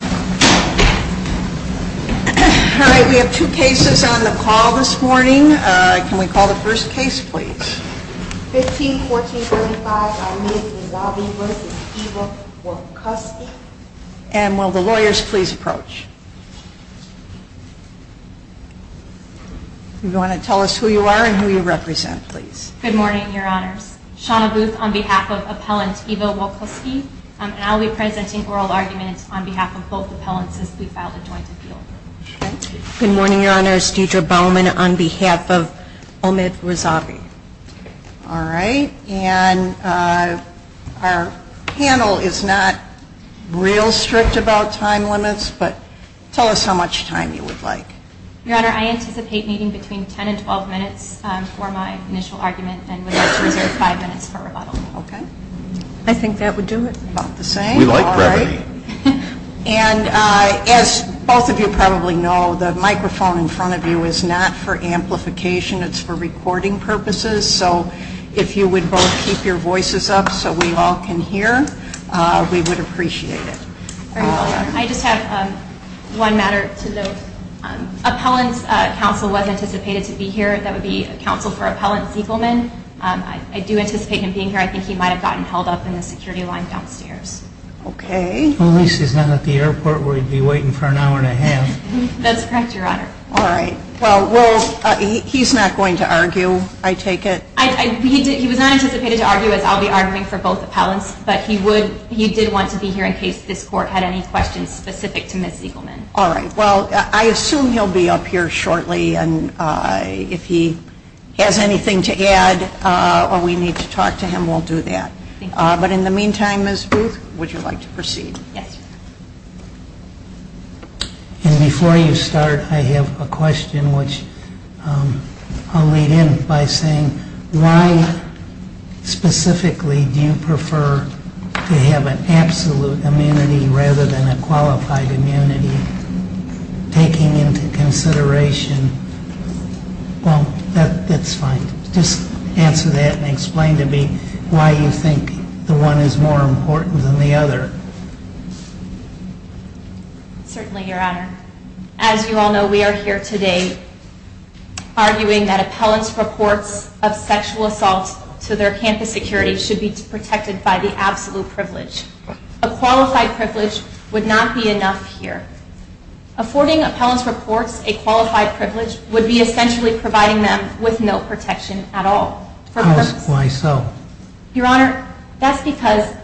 Good morning, your honors. Shana Booth on behalf of Appellant Ivo Walkuski, and I'll be presenting oral arguments on behalf of both appellants as we filed a joint appeal. Good morning, your honors. Deidre Bowman on behalf of Omid Razavi. All right. And our panel is not real strict about time limits, but tell us how much time you would like. Your honor, I anticipate needing between 10 and 12 minutes for my initial argument and would like to reserve 5 minutes for rebuttal. I think that would do it. About the same. We like brevity. And as both of you probably know, the microphone in front of you is not for amplification. It's for recording purposes. So if you would both keep your voices up so we all can hear, we would appreciate it. I just have one matter to note. Appellant's counsel was anticipated to be here. That would be counsel for Appellant Zegelman. I do anticipate him being here. I think he might have gotten held up in the security line downstairs. Okay. At least he's not at the airport where he'd be waiting for an hour and a half. That's correct, your honor. All right. Well, he's not going to argue, I take it? He was not anticipated to argue, as I'll be arguing for both appellants, but he did want to be here in case this court had any questions specific to Ms. Zegelman. All right. Well, I assume he'll be up here shortly, and if he has anything to add or we need to talk to him, we'll do that. Thank you. But in the meantime, Ms. Booth, would you like to proceed? Yes. And before you start, I have a question which I'll lead in by saying, why specifically do you prefer to have an absolute immunity rather than a qualified immunity, taking into consideration – well, that's fine. Just answer that and explain to me why you think the one is more important than the other. Certainly, your honor. As you all know, we are here today arguing that appellants' reports of sexual assaults to their campus security should be protected by the absolute privilege. A qualified privilege would not be enough here. Affording appellants' reports a qualified privilege would be essentially providing them with no protection at all. Why so? Your honor, that's because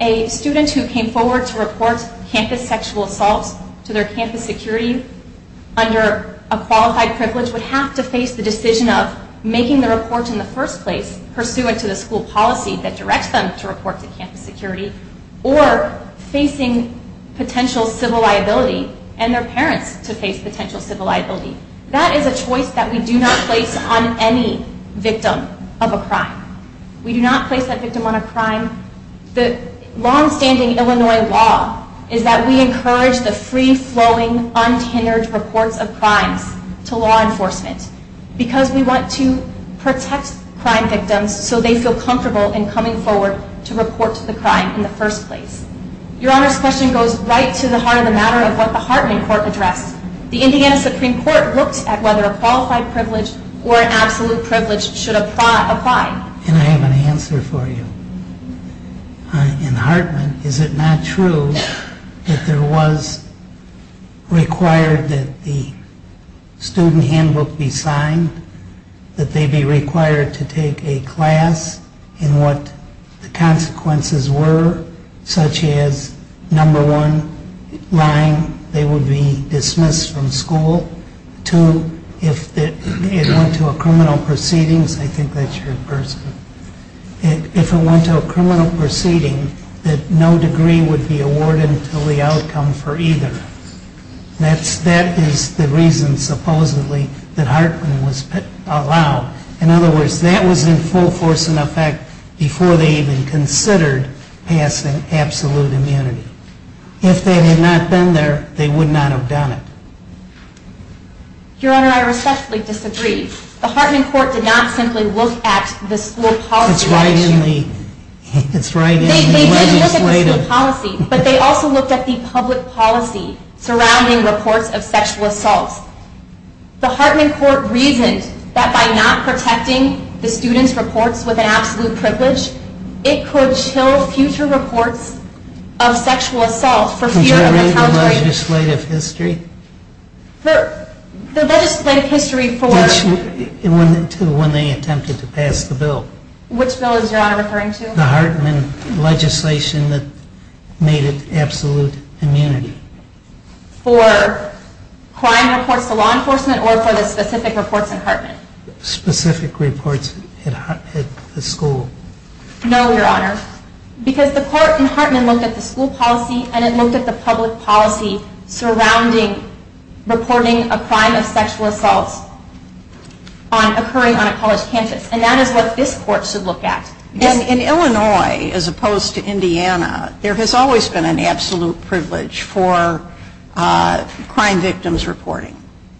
a student who came forward to report campus sexual assaults to their campus security under a qualified privilege would have to face the decision of making the report in the first place pursuant to the school policy that directs them to report to campus security or facing potential civil liability and their parents to face potential civil liability. That is a choice that we do not place on any victim of a crime. We do not place that victim on a crime. The long-standing Illinois law is that we encourage the free-flowing, untinnered reports of crimes to law enforcement because we want to protect crime victims so they feel comfortable in coming forward to report to the crime in the first place. Your honor's question goes right to the heart of the matter of what the Hartman Court addressed. The Indiana Supreme Court looked at whether a qualified privilege or an absolute privilege should apply. And I have an answer for you. In Hartman, is it not true that there was required that the student handbook be signed, that they be required to take a class in what the consequences were, such as number one, lying, they would be dismissed from school. Two, if it went to a criminal proceedings, I think that's your first one. If it went to a criminal proceeding, that no degree would be awarded until the outcome for either. That is the reason, supposedly, that Hartman was allowed. In other words, that was in full force and effect before they even considered passing absolute immunity. If they had not been there, they would not have done it. Your honor, I respectfully disagree. The Hartman Court did not simply look at the school policy issue. It's right in the legislative. They didn't look at the school policy, but they also looked at the public policy surrounding reports of sexual assault. The Hartman Court reasoned that by not protecting the student's reports with an absolute privilege, it could chill future reports of sexual assault for fear of retaliation. Would you read the legislative history? The legislative history for... To when they attempted to pass the bill. Which bill is your honor referring to? The Hartman legislation that made it absolute immunity. For crime reports to law enforcement or for the specific reports in Hartman? Specific reports at the school. No, your honor, because the court in Hartman looked at the school policy and it looked at the public policy surrounding reporting a crime of sexual assault occurring on a college campus. And that is what this court should look at. In Illinois, as opposed to Indiana, there has always been an absolute privilege for crime victims reporting.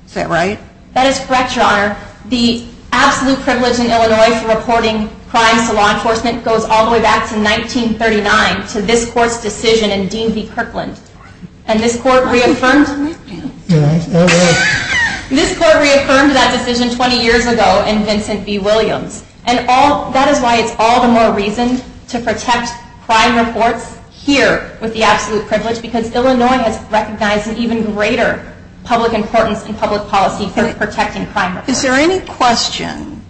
Is that right? That is correct, your honor. The absolute privilege in Illinois for reporting crimes to law enforcement goes all the way back to 1939 to this court's decision in Dean v. Kirkland. And this court reaffirmed... This court reaffirmed that decision 20 years ago in Vincent v. Williams. And that is why it's all the more reason to protect crime reports here with the absolute privilege because Illinois has recognized an even greater public importance in public policy for protecting crime reports. Is there any question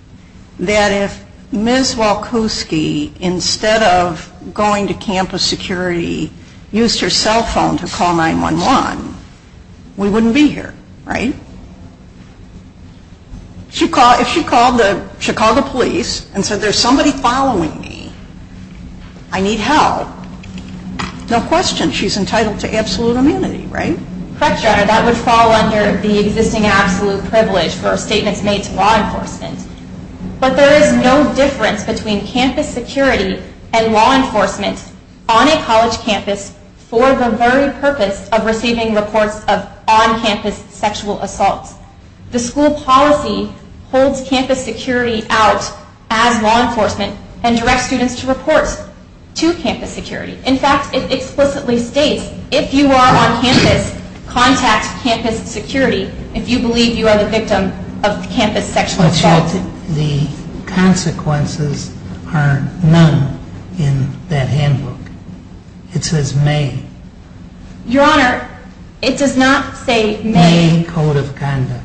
that if Ms. Walkoski, instead of going to campus security, used her cell phone to call 911, we wouldn't be here, right? If she called the Chicago police and said there's somebody following me, I need help. No question she's entitled to absolute immunity, right? Correct, your honor. That would fall under the existing absolute privilege for statements made to law enforcement. But there is no difference between campus security and law enforcement on a college campus for the very purpose of receiving reports of on-campus sexual assaults. The school policy holds campus security out as law enforcement and directs students to report to campus security. In fact, it explicitly states if you are on campus, contact campus security if you believe you are the victim of campus sexual assault. But the consequences are none in that handbook. It says may. Your honor, it does not say may. May code of conduct.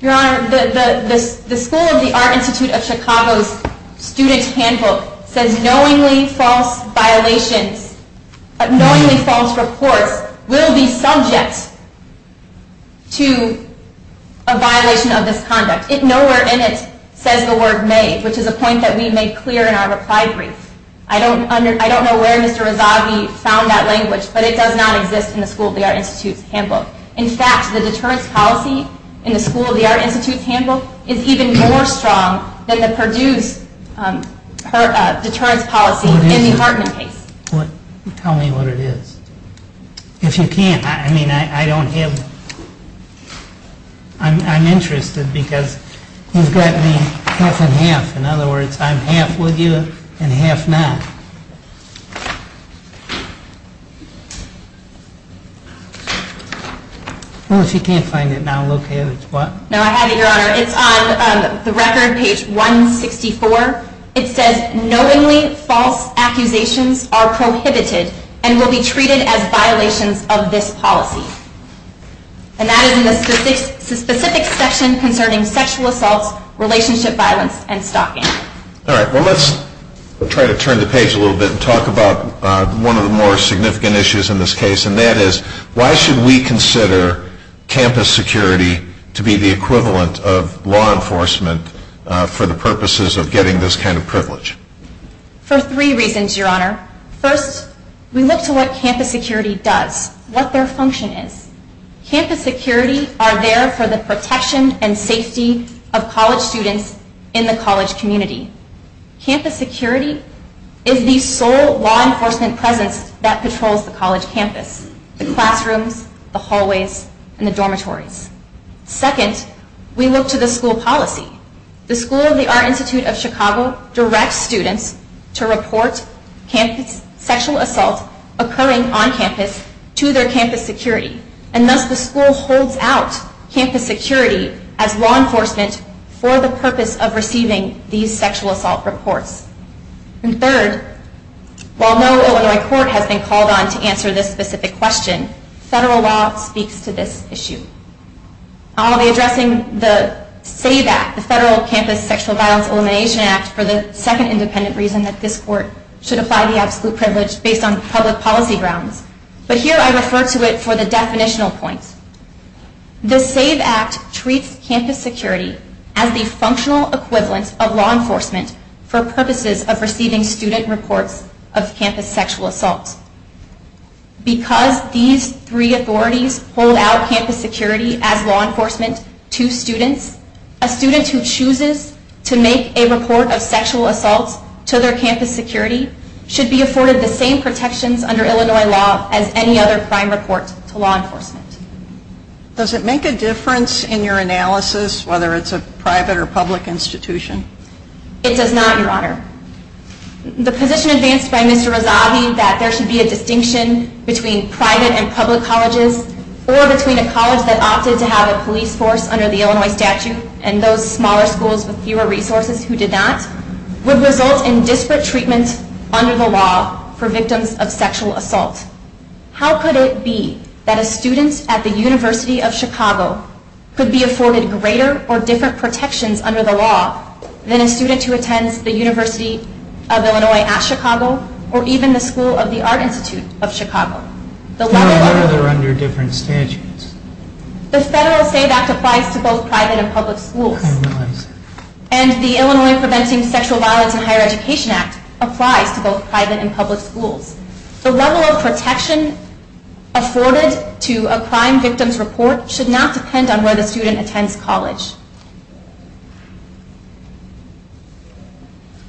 Your honor, the school of the Art Institute of Chicago's student handbook says knowingly false reports will be subject to a violation of this conduct. Nowhere in it says the word may, which is a point that we made clear in our reply brief. I don't know where Mr. Rezaghi found that language, but it does not exist in the school of the Art Institute's handbook. In fact, the deterrence policy in the school of the Art Institute's handbook is even more strong than the Purdue's deterrence policy in the Hartman case. Tell me what it is. If you can't, I mean, I don't have... I'm interested because you've got me half and half. In other words, I'm half with you and half not. Well, if you can't find it now, look at it. No, I have it, your honor. It's on the record, page 164. It says knowingly false accusations are prohibited and will be treated as violations of this policy. And that is in the specific section concerning sexual assaults, relationship violence, and stalking. All right. Well, let's try to turn the page a little bit and talk about one of the more significant issues in this case, and that is why should we consider campus security to be the equivalent of law enforcement for the purposes of getting this kind of privilege? For three reasons, your honor. First, we look to what campus security does, what their function is. Campus security are there for the protection and safety of college students in the college community. Campus security is the sole law enforcement presence that patrols the college campus, the classrooms, the hallways, and the dormitories. Second, we look to the school policy. The School of the Art Institute of Chicago directs students to report sexual assaults occurring on campus to their campus security, and thus the school holds out campus security as law enforcement for the purpose of receiving these sexual assault reports. And third, while no Illinois court has been called on to answer this specific question, federal law speaks to this issue. I'll be addressing the SAVE Act, the Federal Campus Sexual Violence Elimination Act, for the second independent reason that this court should apply the absolute privilege based on public policy grounds. But here I refer to it for the definitional points. The SAVE Act treats campus security as the functional equivalent of law enforcement for purposes of receiving student reports of campus sexual assaults. Because these three authorities hold out campus security as law enforcement to students, a student who chooses to make a report of sexual assaults to their campus security should be afforded the same protections under Illinois law as any other prime report to law enforcement. Does it make a difference in your analysis whether it's a private or public institution? It does not, Your Honor. The position advanced by Mr. Rezavi that there should be a distinction between private and public colleges, or between a college that opted to have a police force under the Illinois statute and those smaller schools with fewer resources who did not, would result in disparate treatment under the law for victims of sexual assault. How could it be that a student at the University of Chicago could be afforded greater or different protections under the law than a student who attends the University of Illinois at Chicago or even the School of the Art Institute of Chicago? They are under different statutes. The Federal SAVE Act applies to both private and public schools. And the Illinois Preventing Sexual Violence in Higher Education Act applies to both private and public schools. The level of protection afforded to a crime victim's report should not depend on where the student attends college.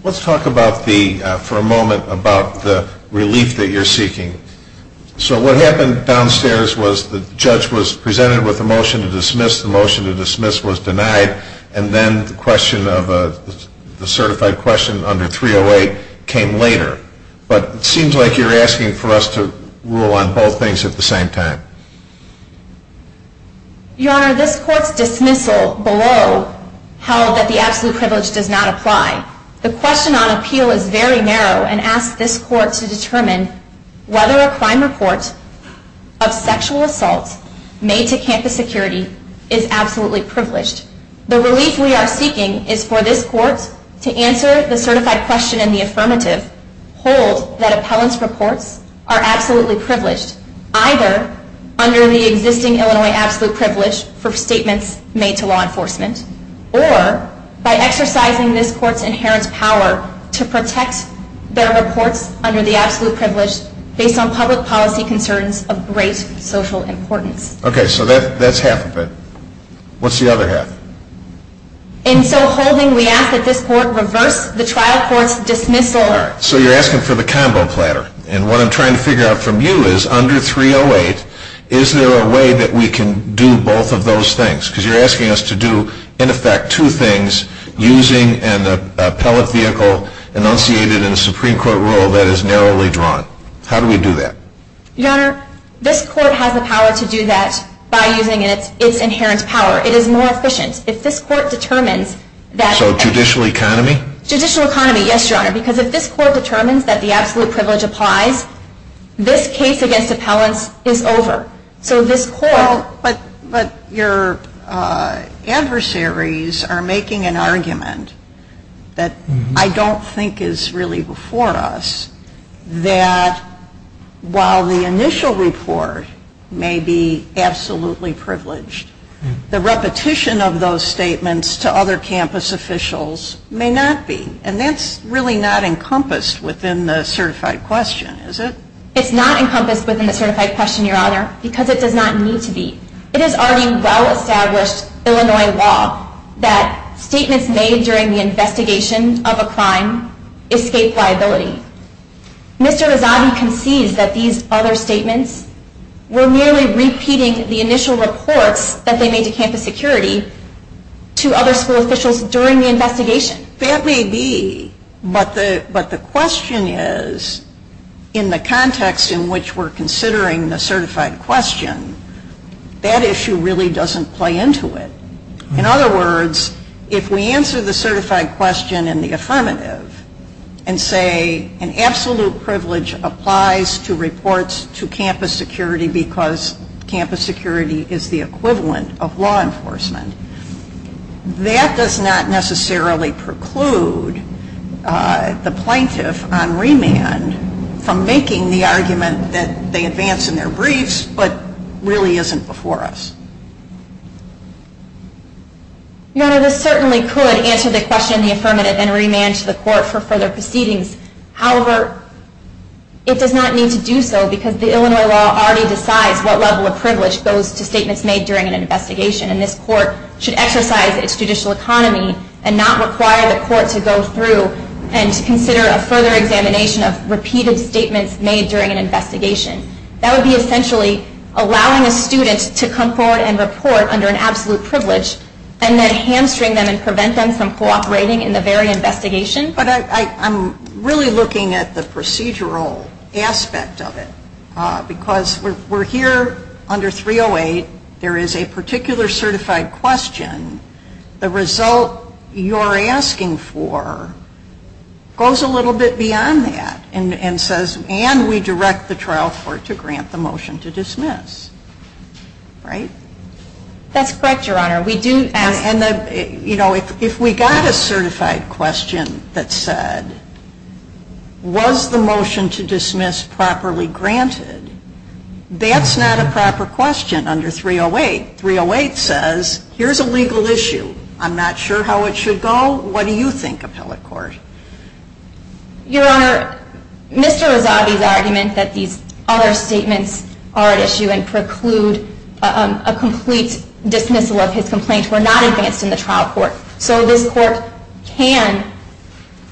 Let's talk for a moment about the relief that you're seeking. So what happened downstairs was the judge was presented with a motion to dismiss. The motion to dismiss was denied. And then the certified question under 308 came later. But it seems like you're asking for us to rule on both things at the same time. Your Honor, this Court's dismissal below held that the absolute privilege does not apply. The question on appeal is very narrow and asks this Court to determine whether a crime report of sexual assault made to campus security is absolutely privileged. The relief we are seeking is for this Court to answer the certified question in the affirmative, hold that appellant's reports are absolutely privileged, either under the existing Illinois absolute privilege for statements made to law enforcement, or by exercising this Court's inherent power to protect their reports under the absolute privilege based on public policy concerns of great social importance. Okay, so that's half of it. What's the other half? In so holding, we ask that this Court reverse the trial court's dismissal order. So you're asking for the combo platter. And what I'm trying to figure out from you is, under 308, is there a way that we can do both of those things? Because you're asking us to do, in effect, two things, using an appellate vehicle enunciated in a Supreme Court rule that is narrowly drawn. How do we do that? Your Honor, this Court has the power to do that by using its inherent power. It is more efficient. If this Court determines that... So judicial economy? Judicial economy, yes, Your Honor, because if this Court determines that the absolute privilege applies, this case against appellants is over. So this Court... Well, but your adversaries are making an argument that I don't think is really before us that while the initial report may be absolutely privileged, the repetition of those statements to other campus officials may not be. And that's really not encompassed within the certified question, is it? It's not encompassed within the certified question, Your Honor, because it does not need to be. It is already well-established Illinois law that statements made during the investigation of a crime escape liability. Mr. Rezaghi concedes that these other statements were merely repeating the initial reports that they made to campus security to other school officials during the investigation. That may be, but the question is, in the context in which we're considering the certified question, that issue really doesn't play into it. In other words, if we answer the certified question in the affirmative and say an absolute privilege applies to reports to campus security because campus security is the equivalent of law enforcement, that does not necessarily preclude the plaintiff on remand from making the argument that they advance in their briefs but really isn't before us. Your Honor, this certainly could answer the question in the affirmative and remand to the court for further proceedings. However, it does not need to do so because the Illinois law already decides what level of privilege goes to statements made during an investigation. And this court should exercise its judicial economy and not require the court to go through and consider a further examination of repeated statements made during an investigation. That would be essentially allowing a student to come forward and report under an absolute privilege and then hamstring them and prevent them from cooperating in the very investigation. But I'm really looking at the procedural aspect of it because we're here under 308. There is a particular certified question. The result you're asking for goes a little bit beyond that and says, and we direct the trial court to grant the motion to dismiss. Right? That's correct, Your Honor. And if we got a certified question that said, was the motion to dismiss properly granted, that's not a proper question under 308. 308 says, here's a legal issue. I'm not sure how it should go. What do you think, appellate court? Your Honor, Mr. Rezavi's argument that these other statements are at issue and preclude a complete dismissal of his complaint were not advanced in the trial court. So this court can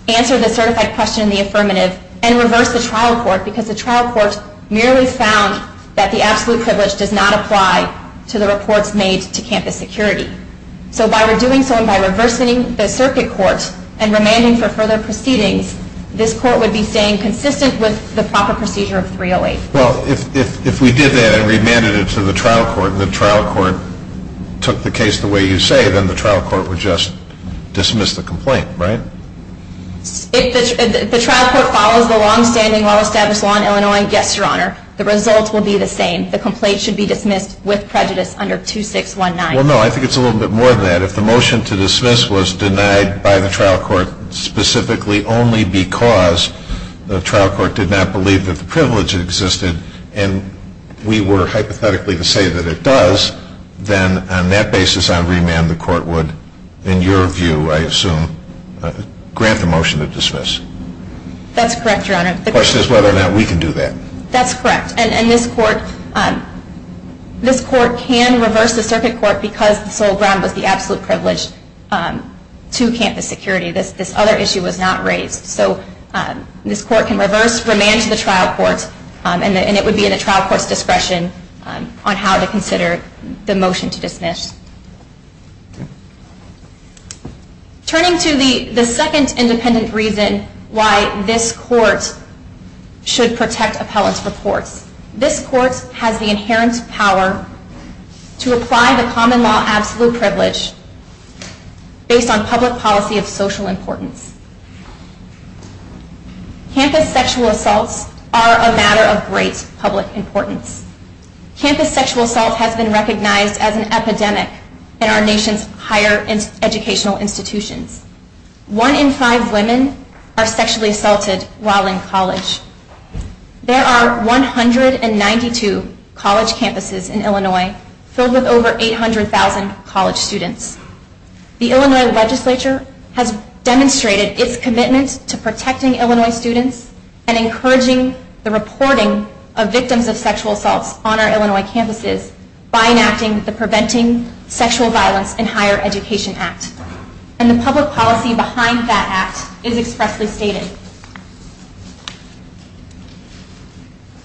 answer the certified question in the affirmative and reverse the trial court because the trial court merely found that the absolute privilege does not apply to the reports made to campus security. So by redoing so and by reversing the circuit court and remanding for further proceedings, this court would be staying consistent with the proper procedure of 308. Well, if we did that and remanded it to the trial court and the trial court took the case the way you say, then the trial court would just dismiss the complaint, right? Yes, Your Honor. The result will be the same. The complaint should be dismissed with prejudice under 2619. Well, no, I think it's a little bit more than that. If the motion to dismiss was denied by the trial court specifically only because the trial court did not believe that the privilege existed and we were hypothetically to say that it does, then on that basis I would remand the court would, in your view, I assume, grant the motion to dismiss. That's correct, Your Honor. The question is whether or not we can do that. That's correct. And this court can reverse the circuit court because the sole ground was the absolute privilege to campus security. This other issue was not raised. So this court can reverse, remand to the trial court, and it would be in the trial court's discretion on how to consider the motion to dismiss. Turning to the second independent reason why this court should protect appellant's reports, this court has the inherent power to apply the common law absolute privilege based on public policy of social importance. Campus sexual assaults are a matter of great public importance. Campus sexual assault has been recognized as an epidemic in our nation's higher educational institutions. One in five women are sexually assaulted while in college. There are 192 college campuses in Illinois filled with over 800,000 college students. The Illinois legislature has demonstrated its commitment to protecting Illinois students and encouraging the reporting of victims of sexual assaults on our Illinois campuses by enacting the Preventing Sexual Violence in Higher Education Act. And the public policy behind that act is expressly stated.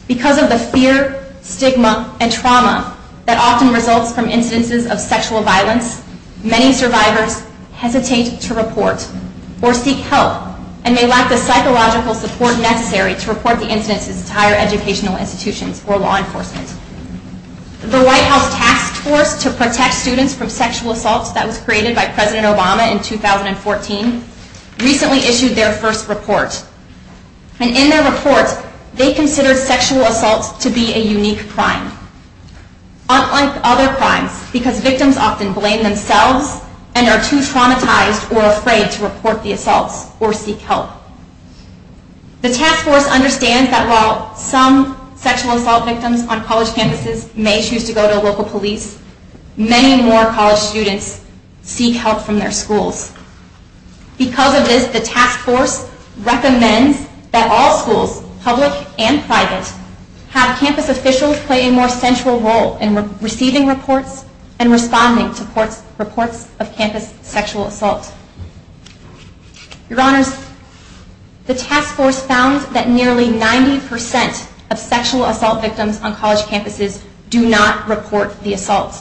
Because of the fear, stigma, and trauma that often results from incidences of sexual violence, many survivors hesitate to report or seek help and may lack the psychological support necessary to report the incidences to higher educational institutions or law enforcement. The White House Task Force to Protect Students from Sexual Assaults that was created by President Obama in 2014 recently issued their first report. And in their report, they considered sexual assaults to be a unique crime. Unlike other crimes, because victims often blame themselves and are too traumatized or afraid to report the assaults or seek help. The Task Force understands that while some sexual assault victims on college campuses may choose to go to local police, many more college students seek help from their schools. Because of this, the Task Force recommends that all schools, public and private, have campus officials play a more central role in receiving reports and responding to reports of campus sexual assault. Your Honors, the Task Force found that nearly 90% of sexual assault victims on college campuses do not report the assault.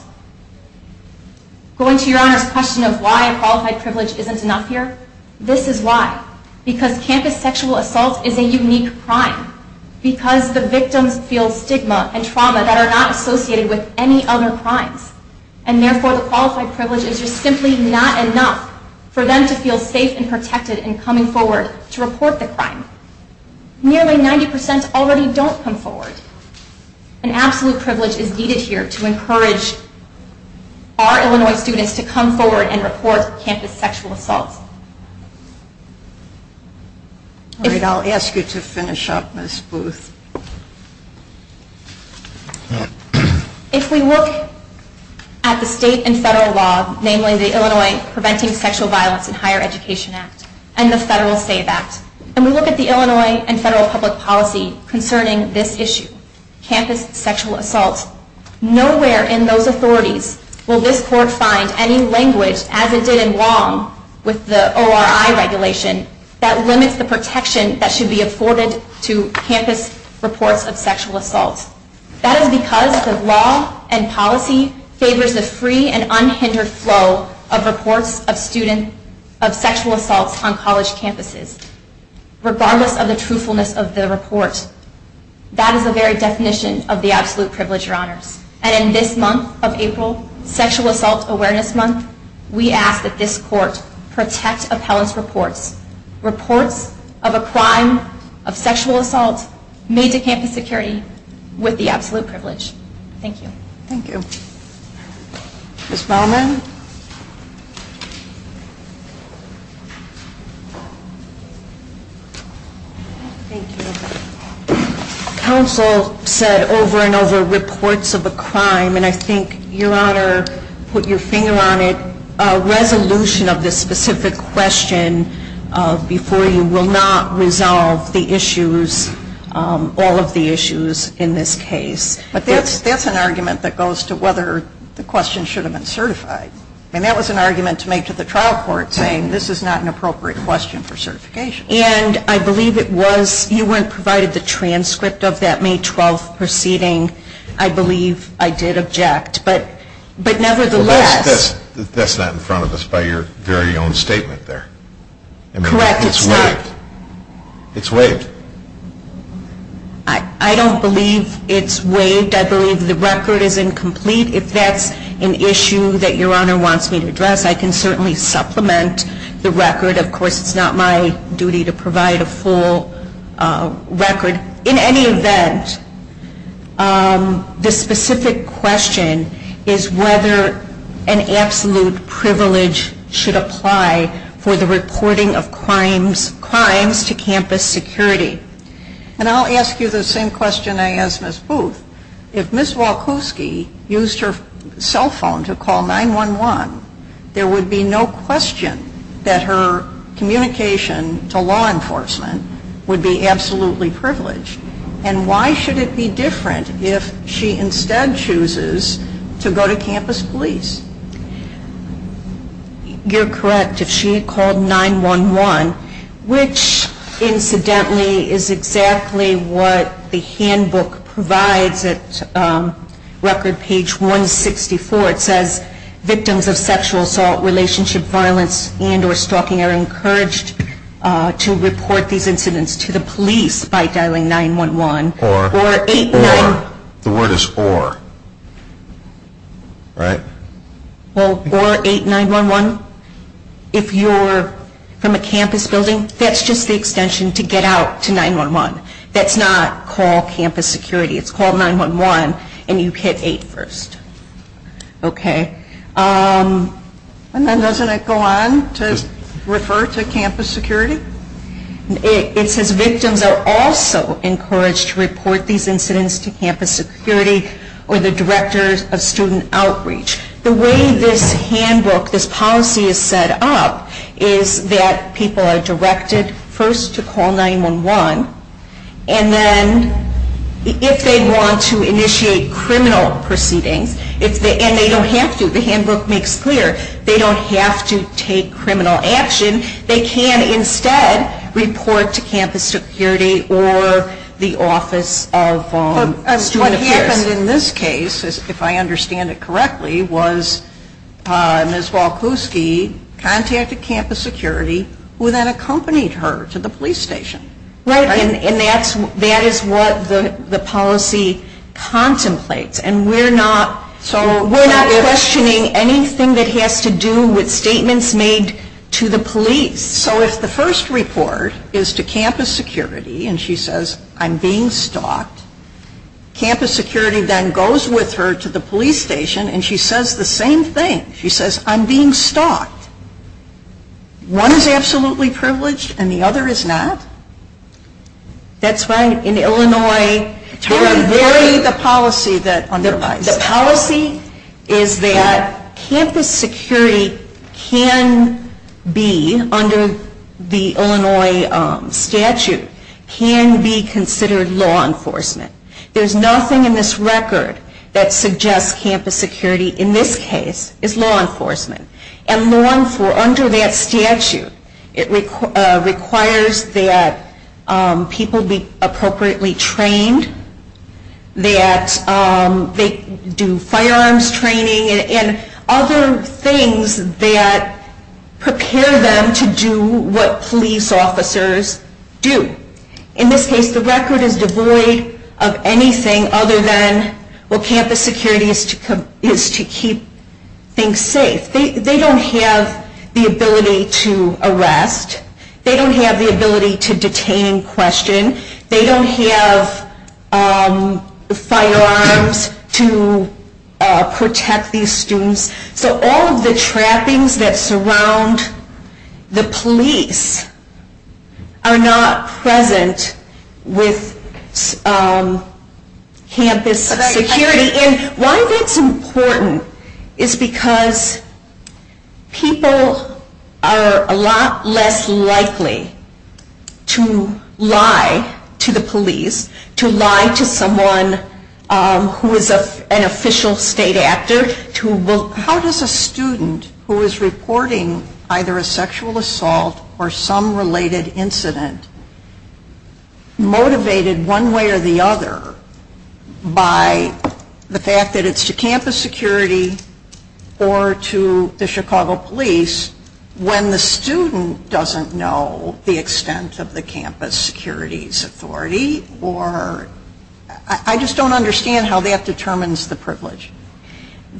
Going to Your Honors' question of why a qualified privilege isn't enough here, this is why. Because campus sexual assault is a unique crime. Because the victims feel stigma and trauma that are not associated with any other crimes. And therefore, the qualified privilege is just simply not enough for them to feel safe and protected in coming forward to report the crime. Nearly 90% already don't come forward. An absolute privilege is needed here to encourage our Illinois students to come forward and report campus sexual assault. All right, I'll ask you to finish up, Ms. Booth. If we look at the state and federal law, namely the Illinois Preventing Sexual Violence in Higher Education Act and the Federal SAVE Act, and we look at the Illinois and federal public policy concerning this issue, campus sexual assault, nowhere in those authorities will this court find any language, as it did in Wong with the ORI regulation, that limits the protection that should be afforded to campus sexual assault That is because the law and policy favors the free and unhindered flow of reports of sexual assaults on college campuses, regardless of the truthfulness of the report. That is the very definition of the absolute privilege, Your Honors. And in this month of April, Sexual Assault Awareness Month, we ask that this court protect appellate reports, reports of a crime of sexual assault, made to campus security, with the absolute privilege. Thank you. Thank you. Ms. Bauman? Thank you. Counsel said over and over, reports of a crime, and I think, Your Honor, put your finger on it, a resolution of this specific question before you will not resolve the issues, all of the issues in this case. But that's an argument that goes to whether the question should have been certified. And that was an argument to make to the trial court, saying this is not an appropriate question for certification. And I believe it was. You weren't provided the transcript of that May 12th proceeding. I believe I did object. But nevertheless. That's not in front of us by your very own statement there. Correct. It's waived. It's waived. I don't believe it's waived. I believe the record is incomplete. If that's an issue that Your Honor wants me to address, I can certainly supplement the record. Of course, it's not my duty to provide a full record. In any event, this specific question is whether an absolute privilege should apply for the reporting of crimes to campus security. And I'll ask you the same question I asked Ms. Booth. If Ms. Wachowski used her cell phone to call 911, there would be no question that her communication to law enforcement would be absolutely privileged. And why should it be different if she instead chooses to go to campus police? You're correct. If she called 911, which, incidentally, is exactly what the handbook provides at record page 164. It says victims of sexual assault, relationship violence, and or stalking are encouraged to report these incidents to the police by dialing 911. Or. Or 891. Or. The word is or. Right? Well, or 8911, if you're from a campus building, that's just the extension to get out to 911. That's not call campus security. It's call 911 and you hit 8 first. Okay. And then doesn't it go on to refer to campus security? It says victims are also encouraged to report these incidents to campus security or the directors of student outreach. The way this handbook, this policy is set up, is that people are directed first to call 911. And then if they want to initiate criminal proceedings, and they don't have to, the handbook makes clear, they don't have to take criminal action, they can instead report to campus security or the office of student affairs. What happened in this case, if I understand it correctly, was Ms. Walkoski contacted campus security who then accompanied her to the police station. Right. And that is what the policy contemplates. And we're not questioning anything that has to do with statements made to the police. So if the first report is to campus security, and she says, I'm being stalked, campus security then goes with her to the police station and she says the same thing. She says, I'm being stalked. One is absolutely privileged and the other is not. That's right. In Illinois, the policy is that campus security can be, under the Illinois statute, can be considered law enforcement. There's nothing in this record that suggests campus security, in this case, is law enforcement. And under that statute, it requires that people be appropriately trained, that they do firearms training, and other things that prepare them to do what police officers do. In this case, the record is devoid of anything other than, well, campus security is to keep things safe. They don't have the ability to arrest. They don't have the ability to detain in question. They don't have firearms to protect these students. So all of the trappings that surround the police are not present with campus security. And why that's important is because people are a lot less likely to lie to the police, to lie to someone who is an official state actor. How does a student who is reporting either a sexual assault or some related incident, motivated one way or the other by the fact that it's to campus security or to the Chicago police, when the student doesn't know the extent of the campus security's authority? I just don't understand how that determines the privilege.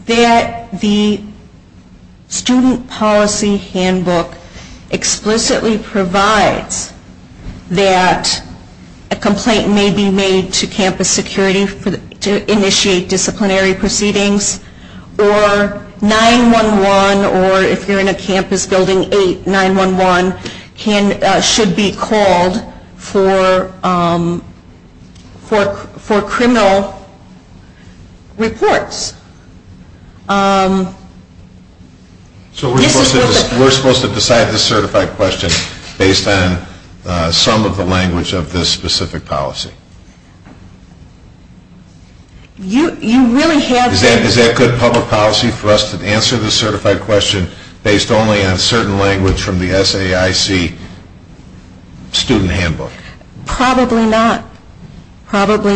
That the student policy handbook explicitly provides that a complaint may be made to campus security to initiate disciplinary proceedings, or 9-1-1 or if you're in a campus building, 8-9-1-1 should be called for criminal reports. So we're supposed to decide the certified question based on some of the language of this specific policy? Is that good public policy for us to answer the certified question based only on certain language from the SAIC student handbook? Probably not. However,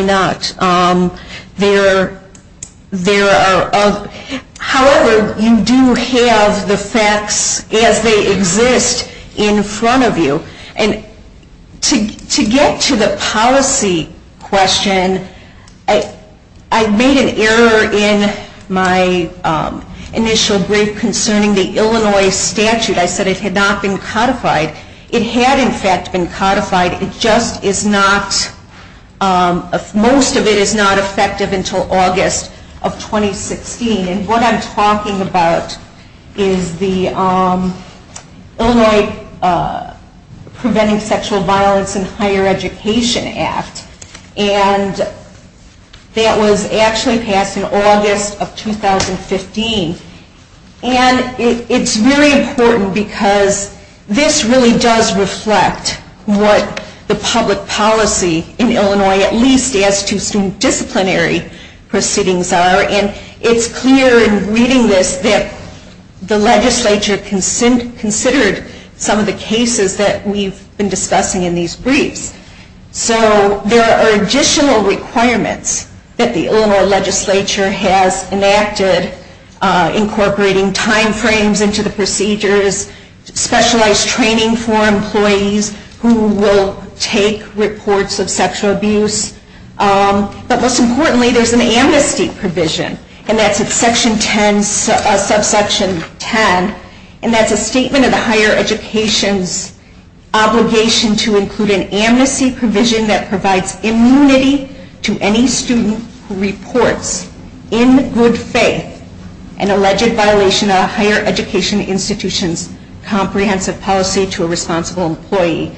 you do have the facts as they exist in front of you. And to get to the policy question, I made an error in my initial brief concerning the Illinois statute. I said it had not been codified. It had, in fact, been codified. It just is not, most of it is not effective until August of 2016. And what I'm talking about is the Illinois Preventing Sexual Violence and Higher Education Act. And that was actually passed in August of 2015. And it's really important because this really does reflect what the public policy in Illinois, at least as to student disciplinary proceedings are. And it's clear in reading this that the legislature considered some of the cases that we've been discussing in these briefs. So there are additional requirements that the Illinois legislature has enacted incorporating time frames into the procedures, specialized training for employees who will take reports of sexual abuse. But most importantly, there's an amnesty provision. And that's at section 10, subsection 10. And that's a statement of the higher education's obligation to include an amnesty provision that provides immunity to any student who reports in good faith an alleged violation of a higher education institution's comprehensive policy to a responsible employee.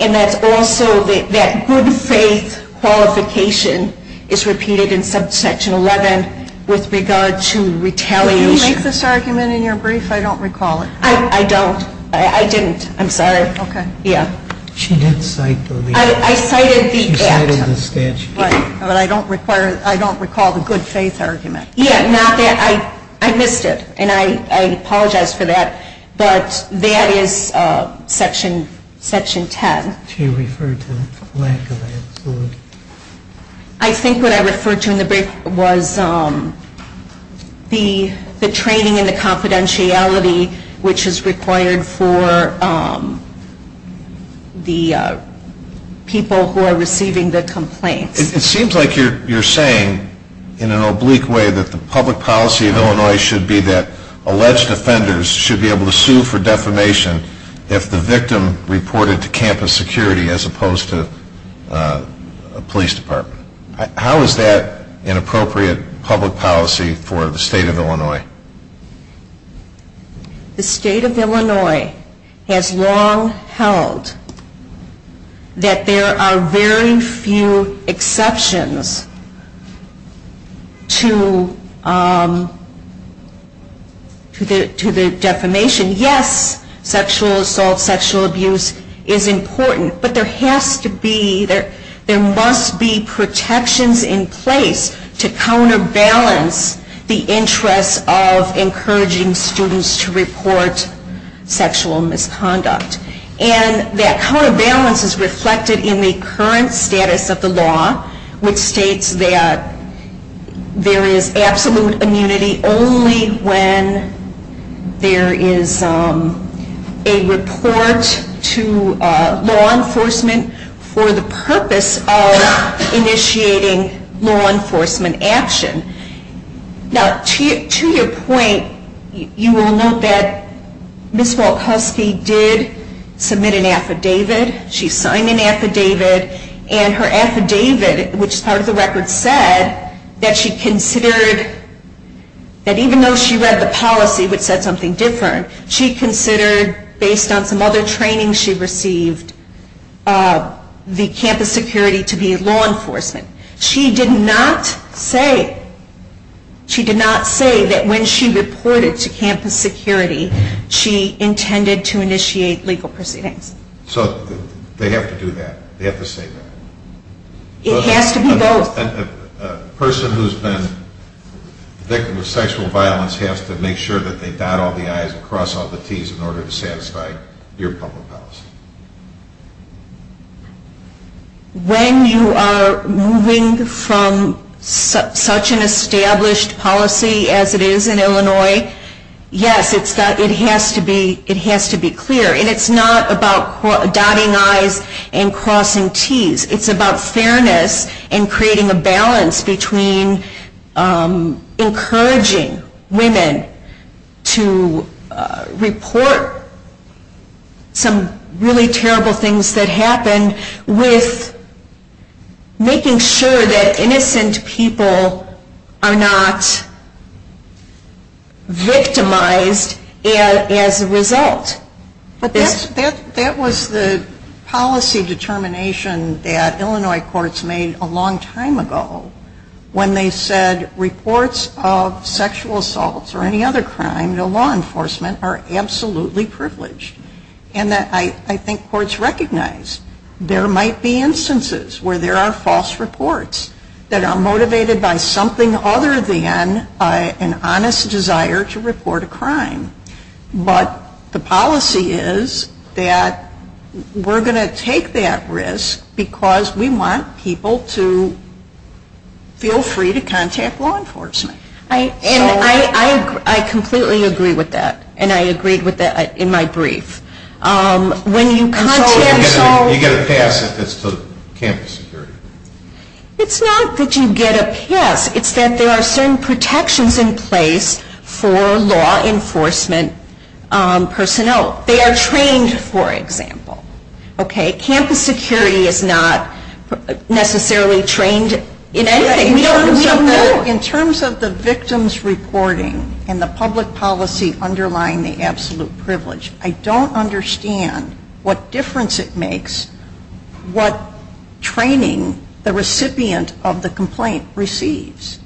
And that's also that good faith qualification is repeated in subsection 11 with regard to retaliation. Did you make this argument in your brief? I don't recall it. I don't. I didn't. I'm sorry. Okay. Yeah. She did cite the statute. I cited the statute. Right. But I don't recall the good faith argument. Yeah. Not that. I missed it. And I apologize for that. But that is section 10. She referred to lack of answer. I think what I referred to in the brief was the training and the confidentiality which is required for the people who are receiving the complaints. It seems like you're saying in an oblique way that the public policy of Illinois should be that alleged offenders should be able to sue for defamation if the victim reported to campus security as opposed to a police department. How is that an appropriate public policy for the State of Illinois? The State of Illinois has long held that there are very few exceptions to the defamation. Yes, sexual assault, sexual abuse is important. But there must be protections in place to counterbalance the interest of encouraging students to report sexual misconduct. And that counterbalance is reflected in the current status of the law which states that there is absolute immunity only when there is a report to law enforcement for the purpose of initiating law enforcement action. Now, to your point, you will note that Ms. Walk-Husky did submit an affidavit. She signed an affidavit. And her affidavit, which is part of the record, said that she considered that even though she read the policy, which said something different, she considered, based on some other training she received, the campus security to be law enforcement. She did not say that when she reported to campus security, she intended to initiate legal proceedings. So they have to do that. They have to say that. It has to be both. A person who has been a victim of sexual violence has to make sure that they dot all the I's and cross all the T's in order to satisfy your public policy. When you are moving from such an established policy as it is in Illinois, yes, it has to be clear. And it's not about dotting I's and crossing T's. It's about fairness and creating a balance between encouraging women to report some really terrible things that happen with making sure that innocent people are not victimized as a result. But that was the policy determination that Illinois courts made a long time ago when they said reports of sexual assaults or any other crime to law enforcement are absolutely privileged. And I think courts recognize there might be instances where there are false reports that are motivated by something other than an honest desire to report a crime. But the policy is that we're going to take that risk because we want people to feel free to contact law enforcement. And I completely agree with that. And I agreed with that in my brief. So you get a pass if it's to campus security? It's not that you get a pass. It's that there are certain protections in place for law enforcement personnel. They are trained, for example. Campus security is not necessarily trained in anything. We don't know. In terms of the victim's reporting and the public policy underlying the absolute privilege, I don't understand what difference it makes what training the recipient of the complaint receives.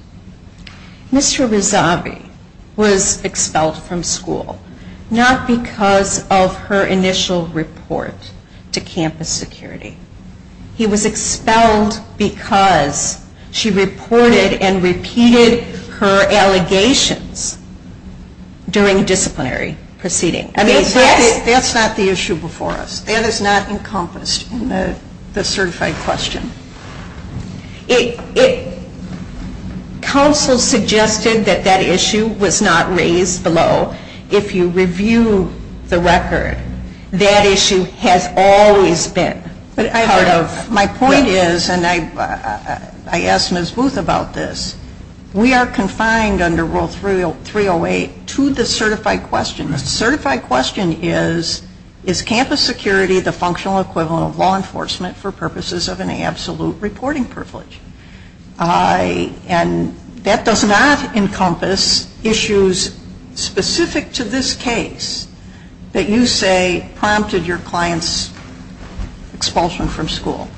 Mr. Rezavi was expelled from school not because of her initial report to campus security. He was expelled because she reported and repeated her allegations during disciplinary proceedings. That's not the issue before us. That is not encompassed in the certified question. Counsel suggested that that issue was not raised below. If you review the record, that issue has always been part of it. My point is, and I asked Ms. Booth about this, we are confined under Rule 308 to the certified question. The certified question is, is campus security the functional equivalent of law enforcement for purposes of an absolute reporting privilege? That does not encompass issues specific to this case that you say prompted your client's expulsion from school.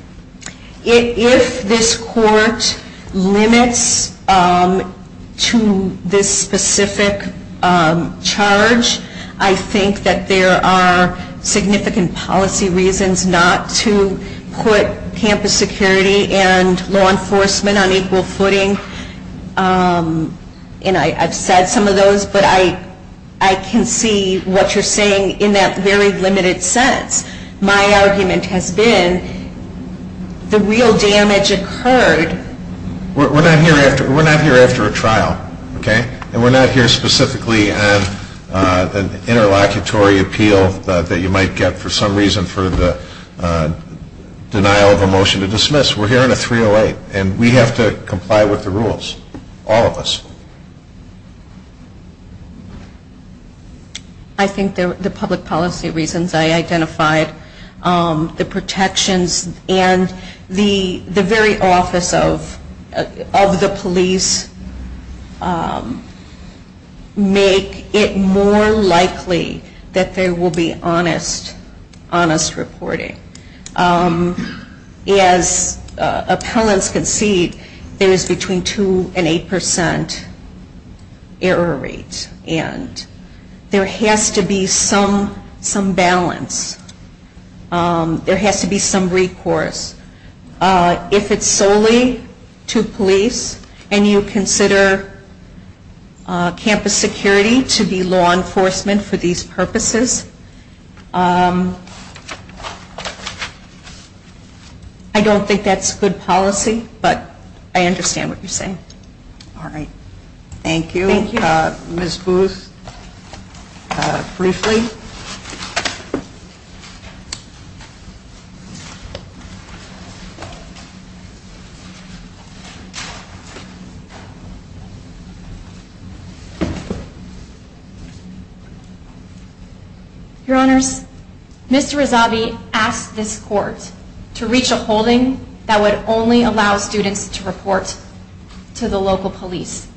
If this court limits to this specific charge, I think that there are significant policy reasons not to put campus security and law enforcement on equal footing. And I've said some of those, but I can see what you're saying in that very limited sense. My argument has been the real damage occurred. We're not here after a trial. And we're not here specifically on an interlocutory appeal that you might get for some reason for the denial of a motion to dismiss. We're here on a 308, and we have to comply with the rules, all of us. I think the public policy reasons I identified, the protections and the very office of the police make it more likely that there will be honest reporting. As appellants concede, there is between 2% and 8% error rate, and there has to be some balance. There has to be some recourse. If it's solely to police, and you consider campus security to be law enforcement for these purposes, I don't think that's good policy, but I understand what you're saying. All right. Thank you. Thank you. Ms. Booth, briefly. Your Honors, Mr. Rezavi asked this court to reach a holding that would only allow students to report to the local police.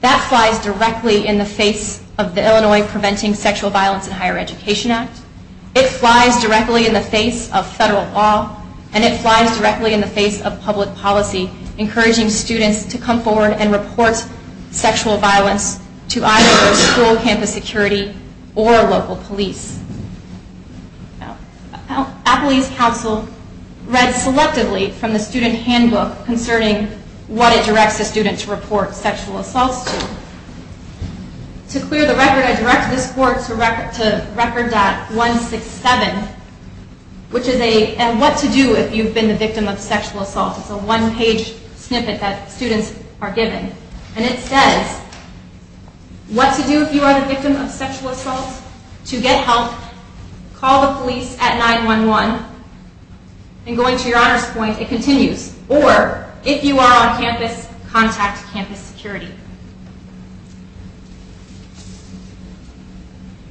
That flies directly in the face of the Illinois Preventing Sexual Violence in Higher Education Act. It flies directly in the face of federal law, and it flies directly in the face of public policy, encouraging students to come forward and report sexual violence to either school campus security or local police. Appley's counsel read selectively from the student handbook concerning what it directs the student to report sexual assaults to. To clear the record, I direct this court to Record.167, which is a What to Do If You've Been the Victim of Sexual Assault. It's a one-page snippet that students are given, and it says, What to do if you are the victim of sexual assault? To get help, call the police at 911. And going to your Honors point, it continues. Or, if you are on campus, contact campus security.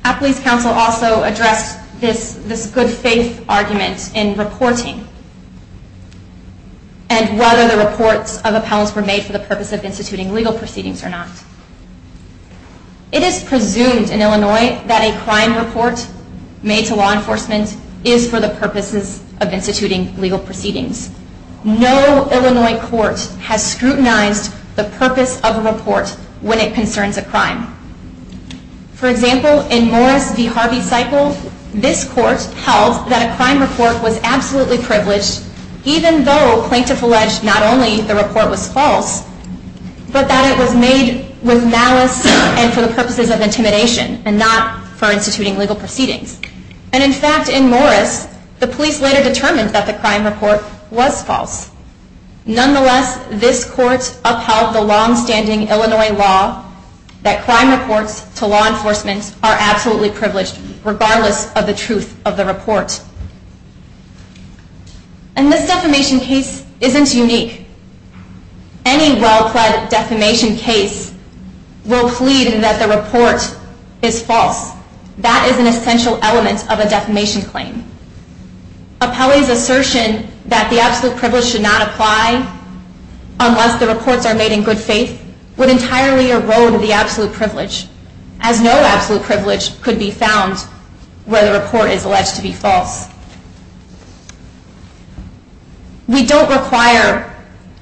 Appley's counsel also addressed this good-faith argument in reporting and whether the reports of appellants were made for the purpose of instituting legal proceedings or not. It is presumed in Illinois that a crime report made to law enforcement is for the purposes of instituting legal proceedings. No Illinois court has scrutinized the purpose of a report when it concerns a crime. For example, in Morris v. Harvey cycle, this court held that a crime report was absolutely privileged, even though plaintiffs alleged not only the report was false, but that it was made with malice and for the purposes of intimidation and not for instituting legal proceedings. And in fact, in Morris, the police later determined that the crime report was false. Nonetheless, this court upheld the long-standing Illinois law that crime reports to law enforcement are absolutely privileged, regardless of the truth of the report. And this defamation case isn't unique. Any well-pled defamation case will plead that the report is false. That is an essential element of a defamation claim. Appellee's assertion that the absolute privilege should not apply unless the reports are made in good faith would entirely erode the absolute privilege, as no absolute privilege could be found where the report is alleged to be false. We don't require,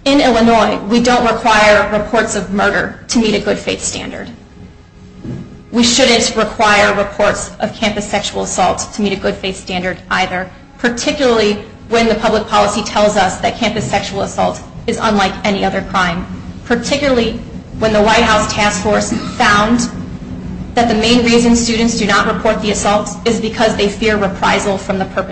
in Illinois, we don't require reports of murder to meet a good faith standard. We shouldn't require reports of campus sexual assault to meet a good faith standard either, particularly when the public policy tells us that campus sexual assault is unlike any other crime, particularly when the White House Task Force found that the main reason students do not report the assault is because they fear reprisal from the police.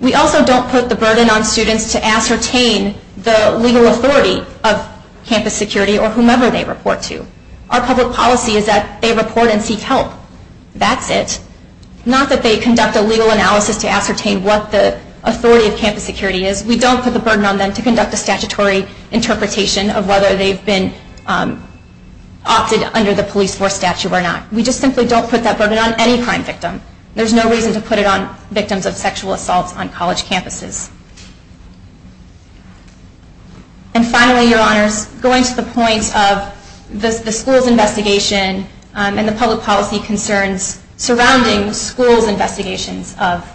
We also don't put the burden on students to ascertain the legal authority of campus security or whomever they report to. Our public policy is that they report and seek help. That's it. Not that they conduct a legal analysis to ascertain what the authority of campus security is. We don't put the burden on them to conduct a statutory interpretation of whether they've been opted under the police force statute or not. We just simply don't put that burden on any crime victim. There's no reason to put it on victims of sexual assault on college campuses. And finally, Your Honors, going to the point of the school's investigation and the public policy concerns surrounding school's investigations of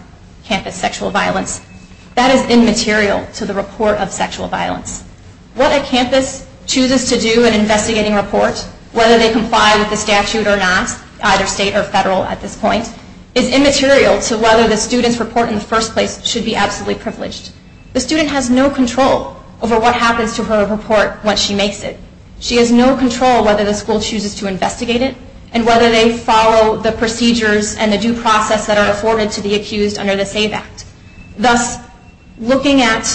campus sexual violence, that is immaterial to the report of sexual violence. What a campus chooses to do in investigating a report, whether they comply with the statute or not, either state or federal at this point, is immaterial to whether the student's report in the first place should be absolutely privileged. The student has no control over what happens to her report when she makes it. She has no control whether the school chooses to investigate it and whether they follow the procedures and the due process that are afforded to the accused under the SAVE Act. Thus, looking at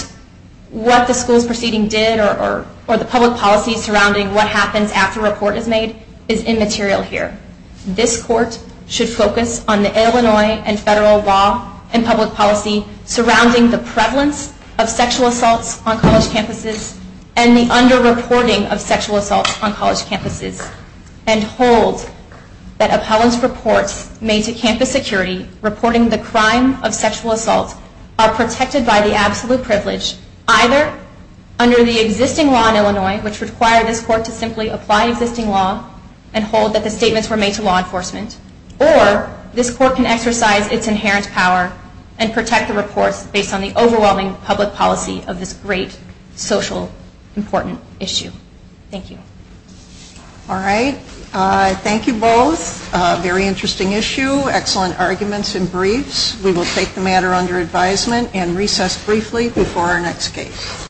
what the school's proceeding did or the public policy surrounding what happens after a report is made is immaterial here. This Court should focus on the Illinois and federal law and public policy surrounding the prevalence of sexual assaults on college campuses and the under-reporting of sexual assaults on college campuses and hold that appellant's reports made to campus security reporting the crime of sexual assault are protected by the absolute privilege either under the existing law in Illinois, which required this Court to simply apply existing law and hold that the statements were made to law enforcement, or this Court can exercise its inherent power and protect the reports based on the overwhelming public policy of this great, social, important issue. Thank you. All right. Thank you both. Very interesting issue. Excellent arguments and briefs. We will take the matter under advisement and recess briefly before our next case.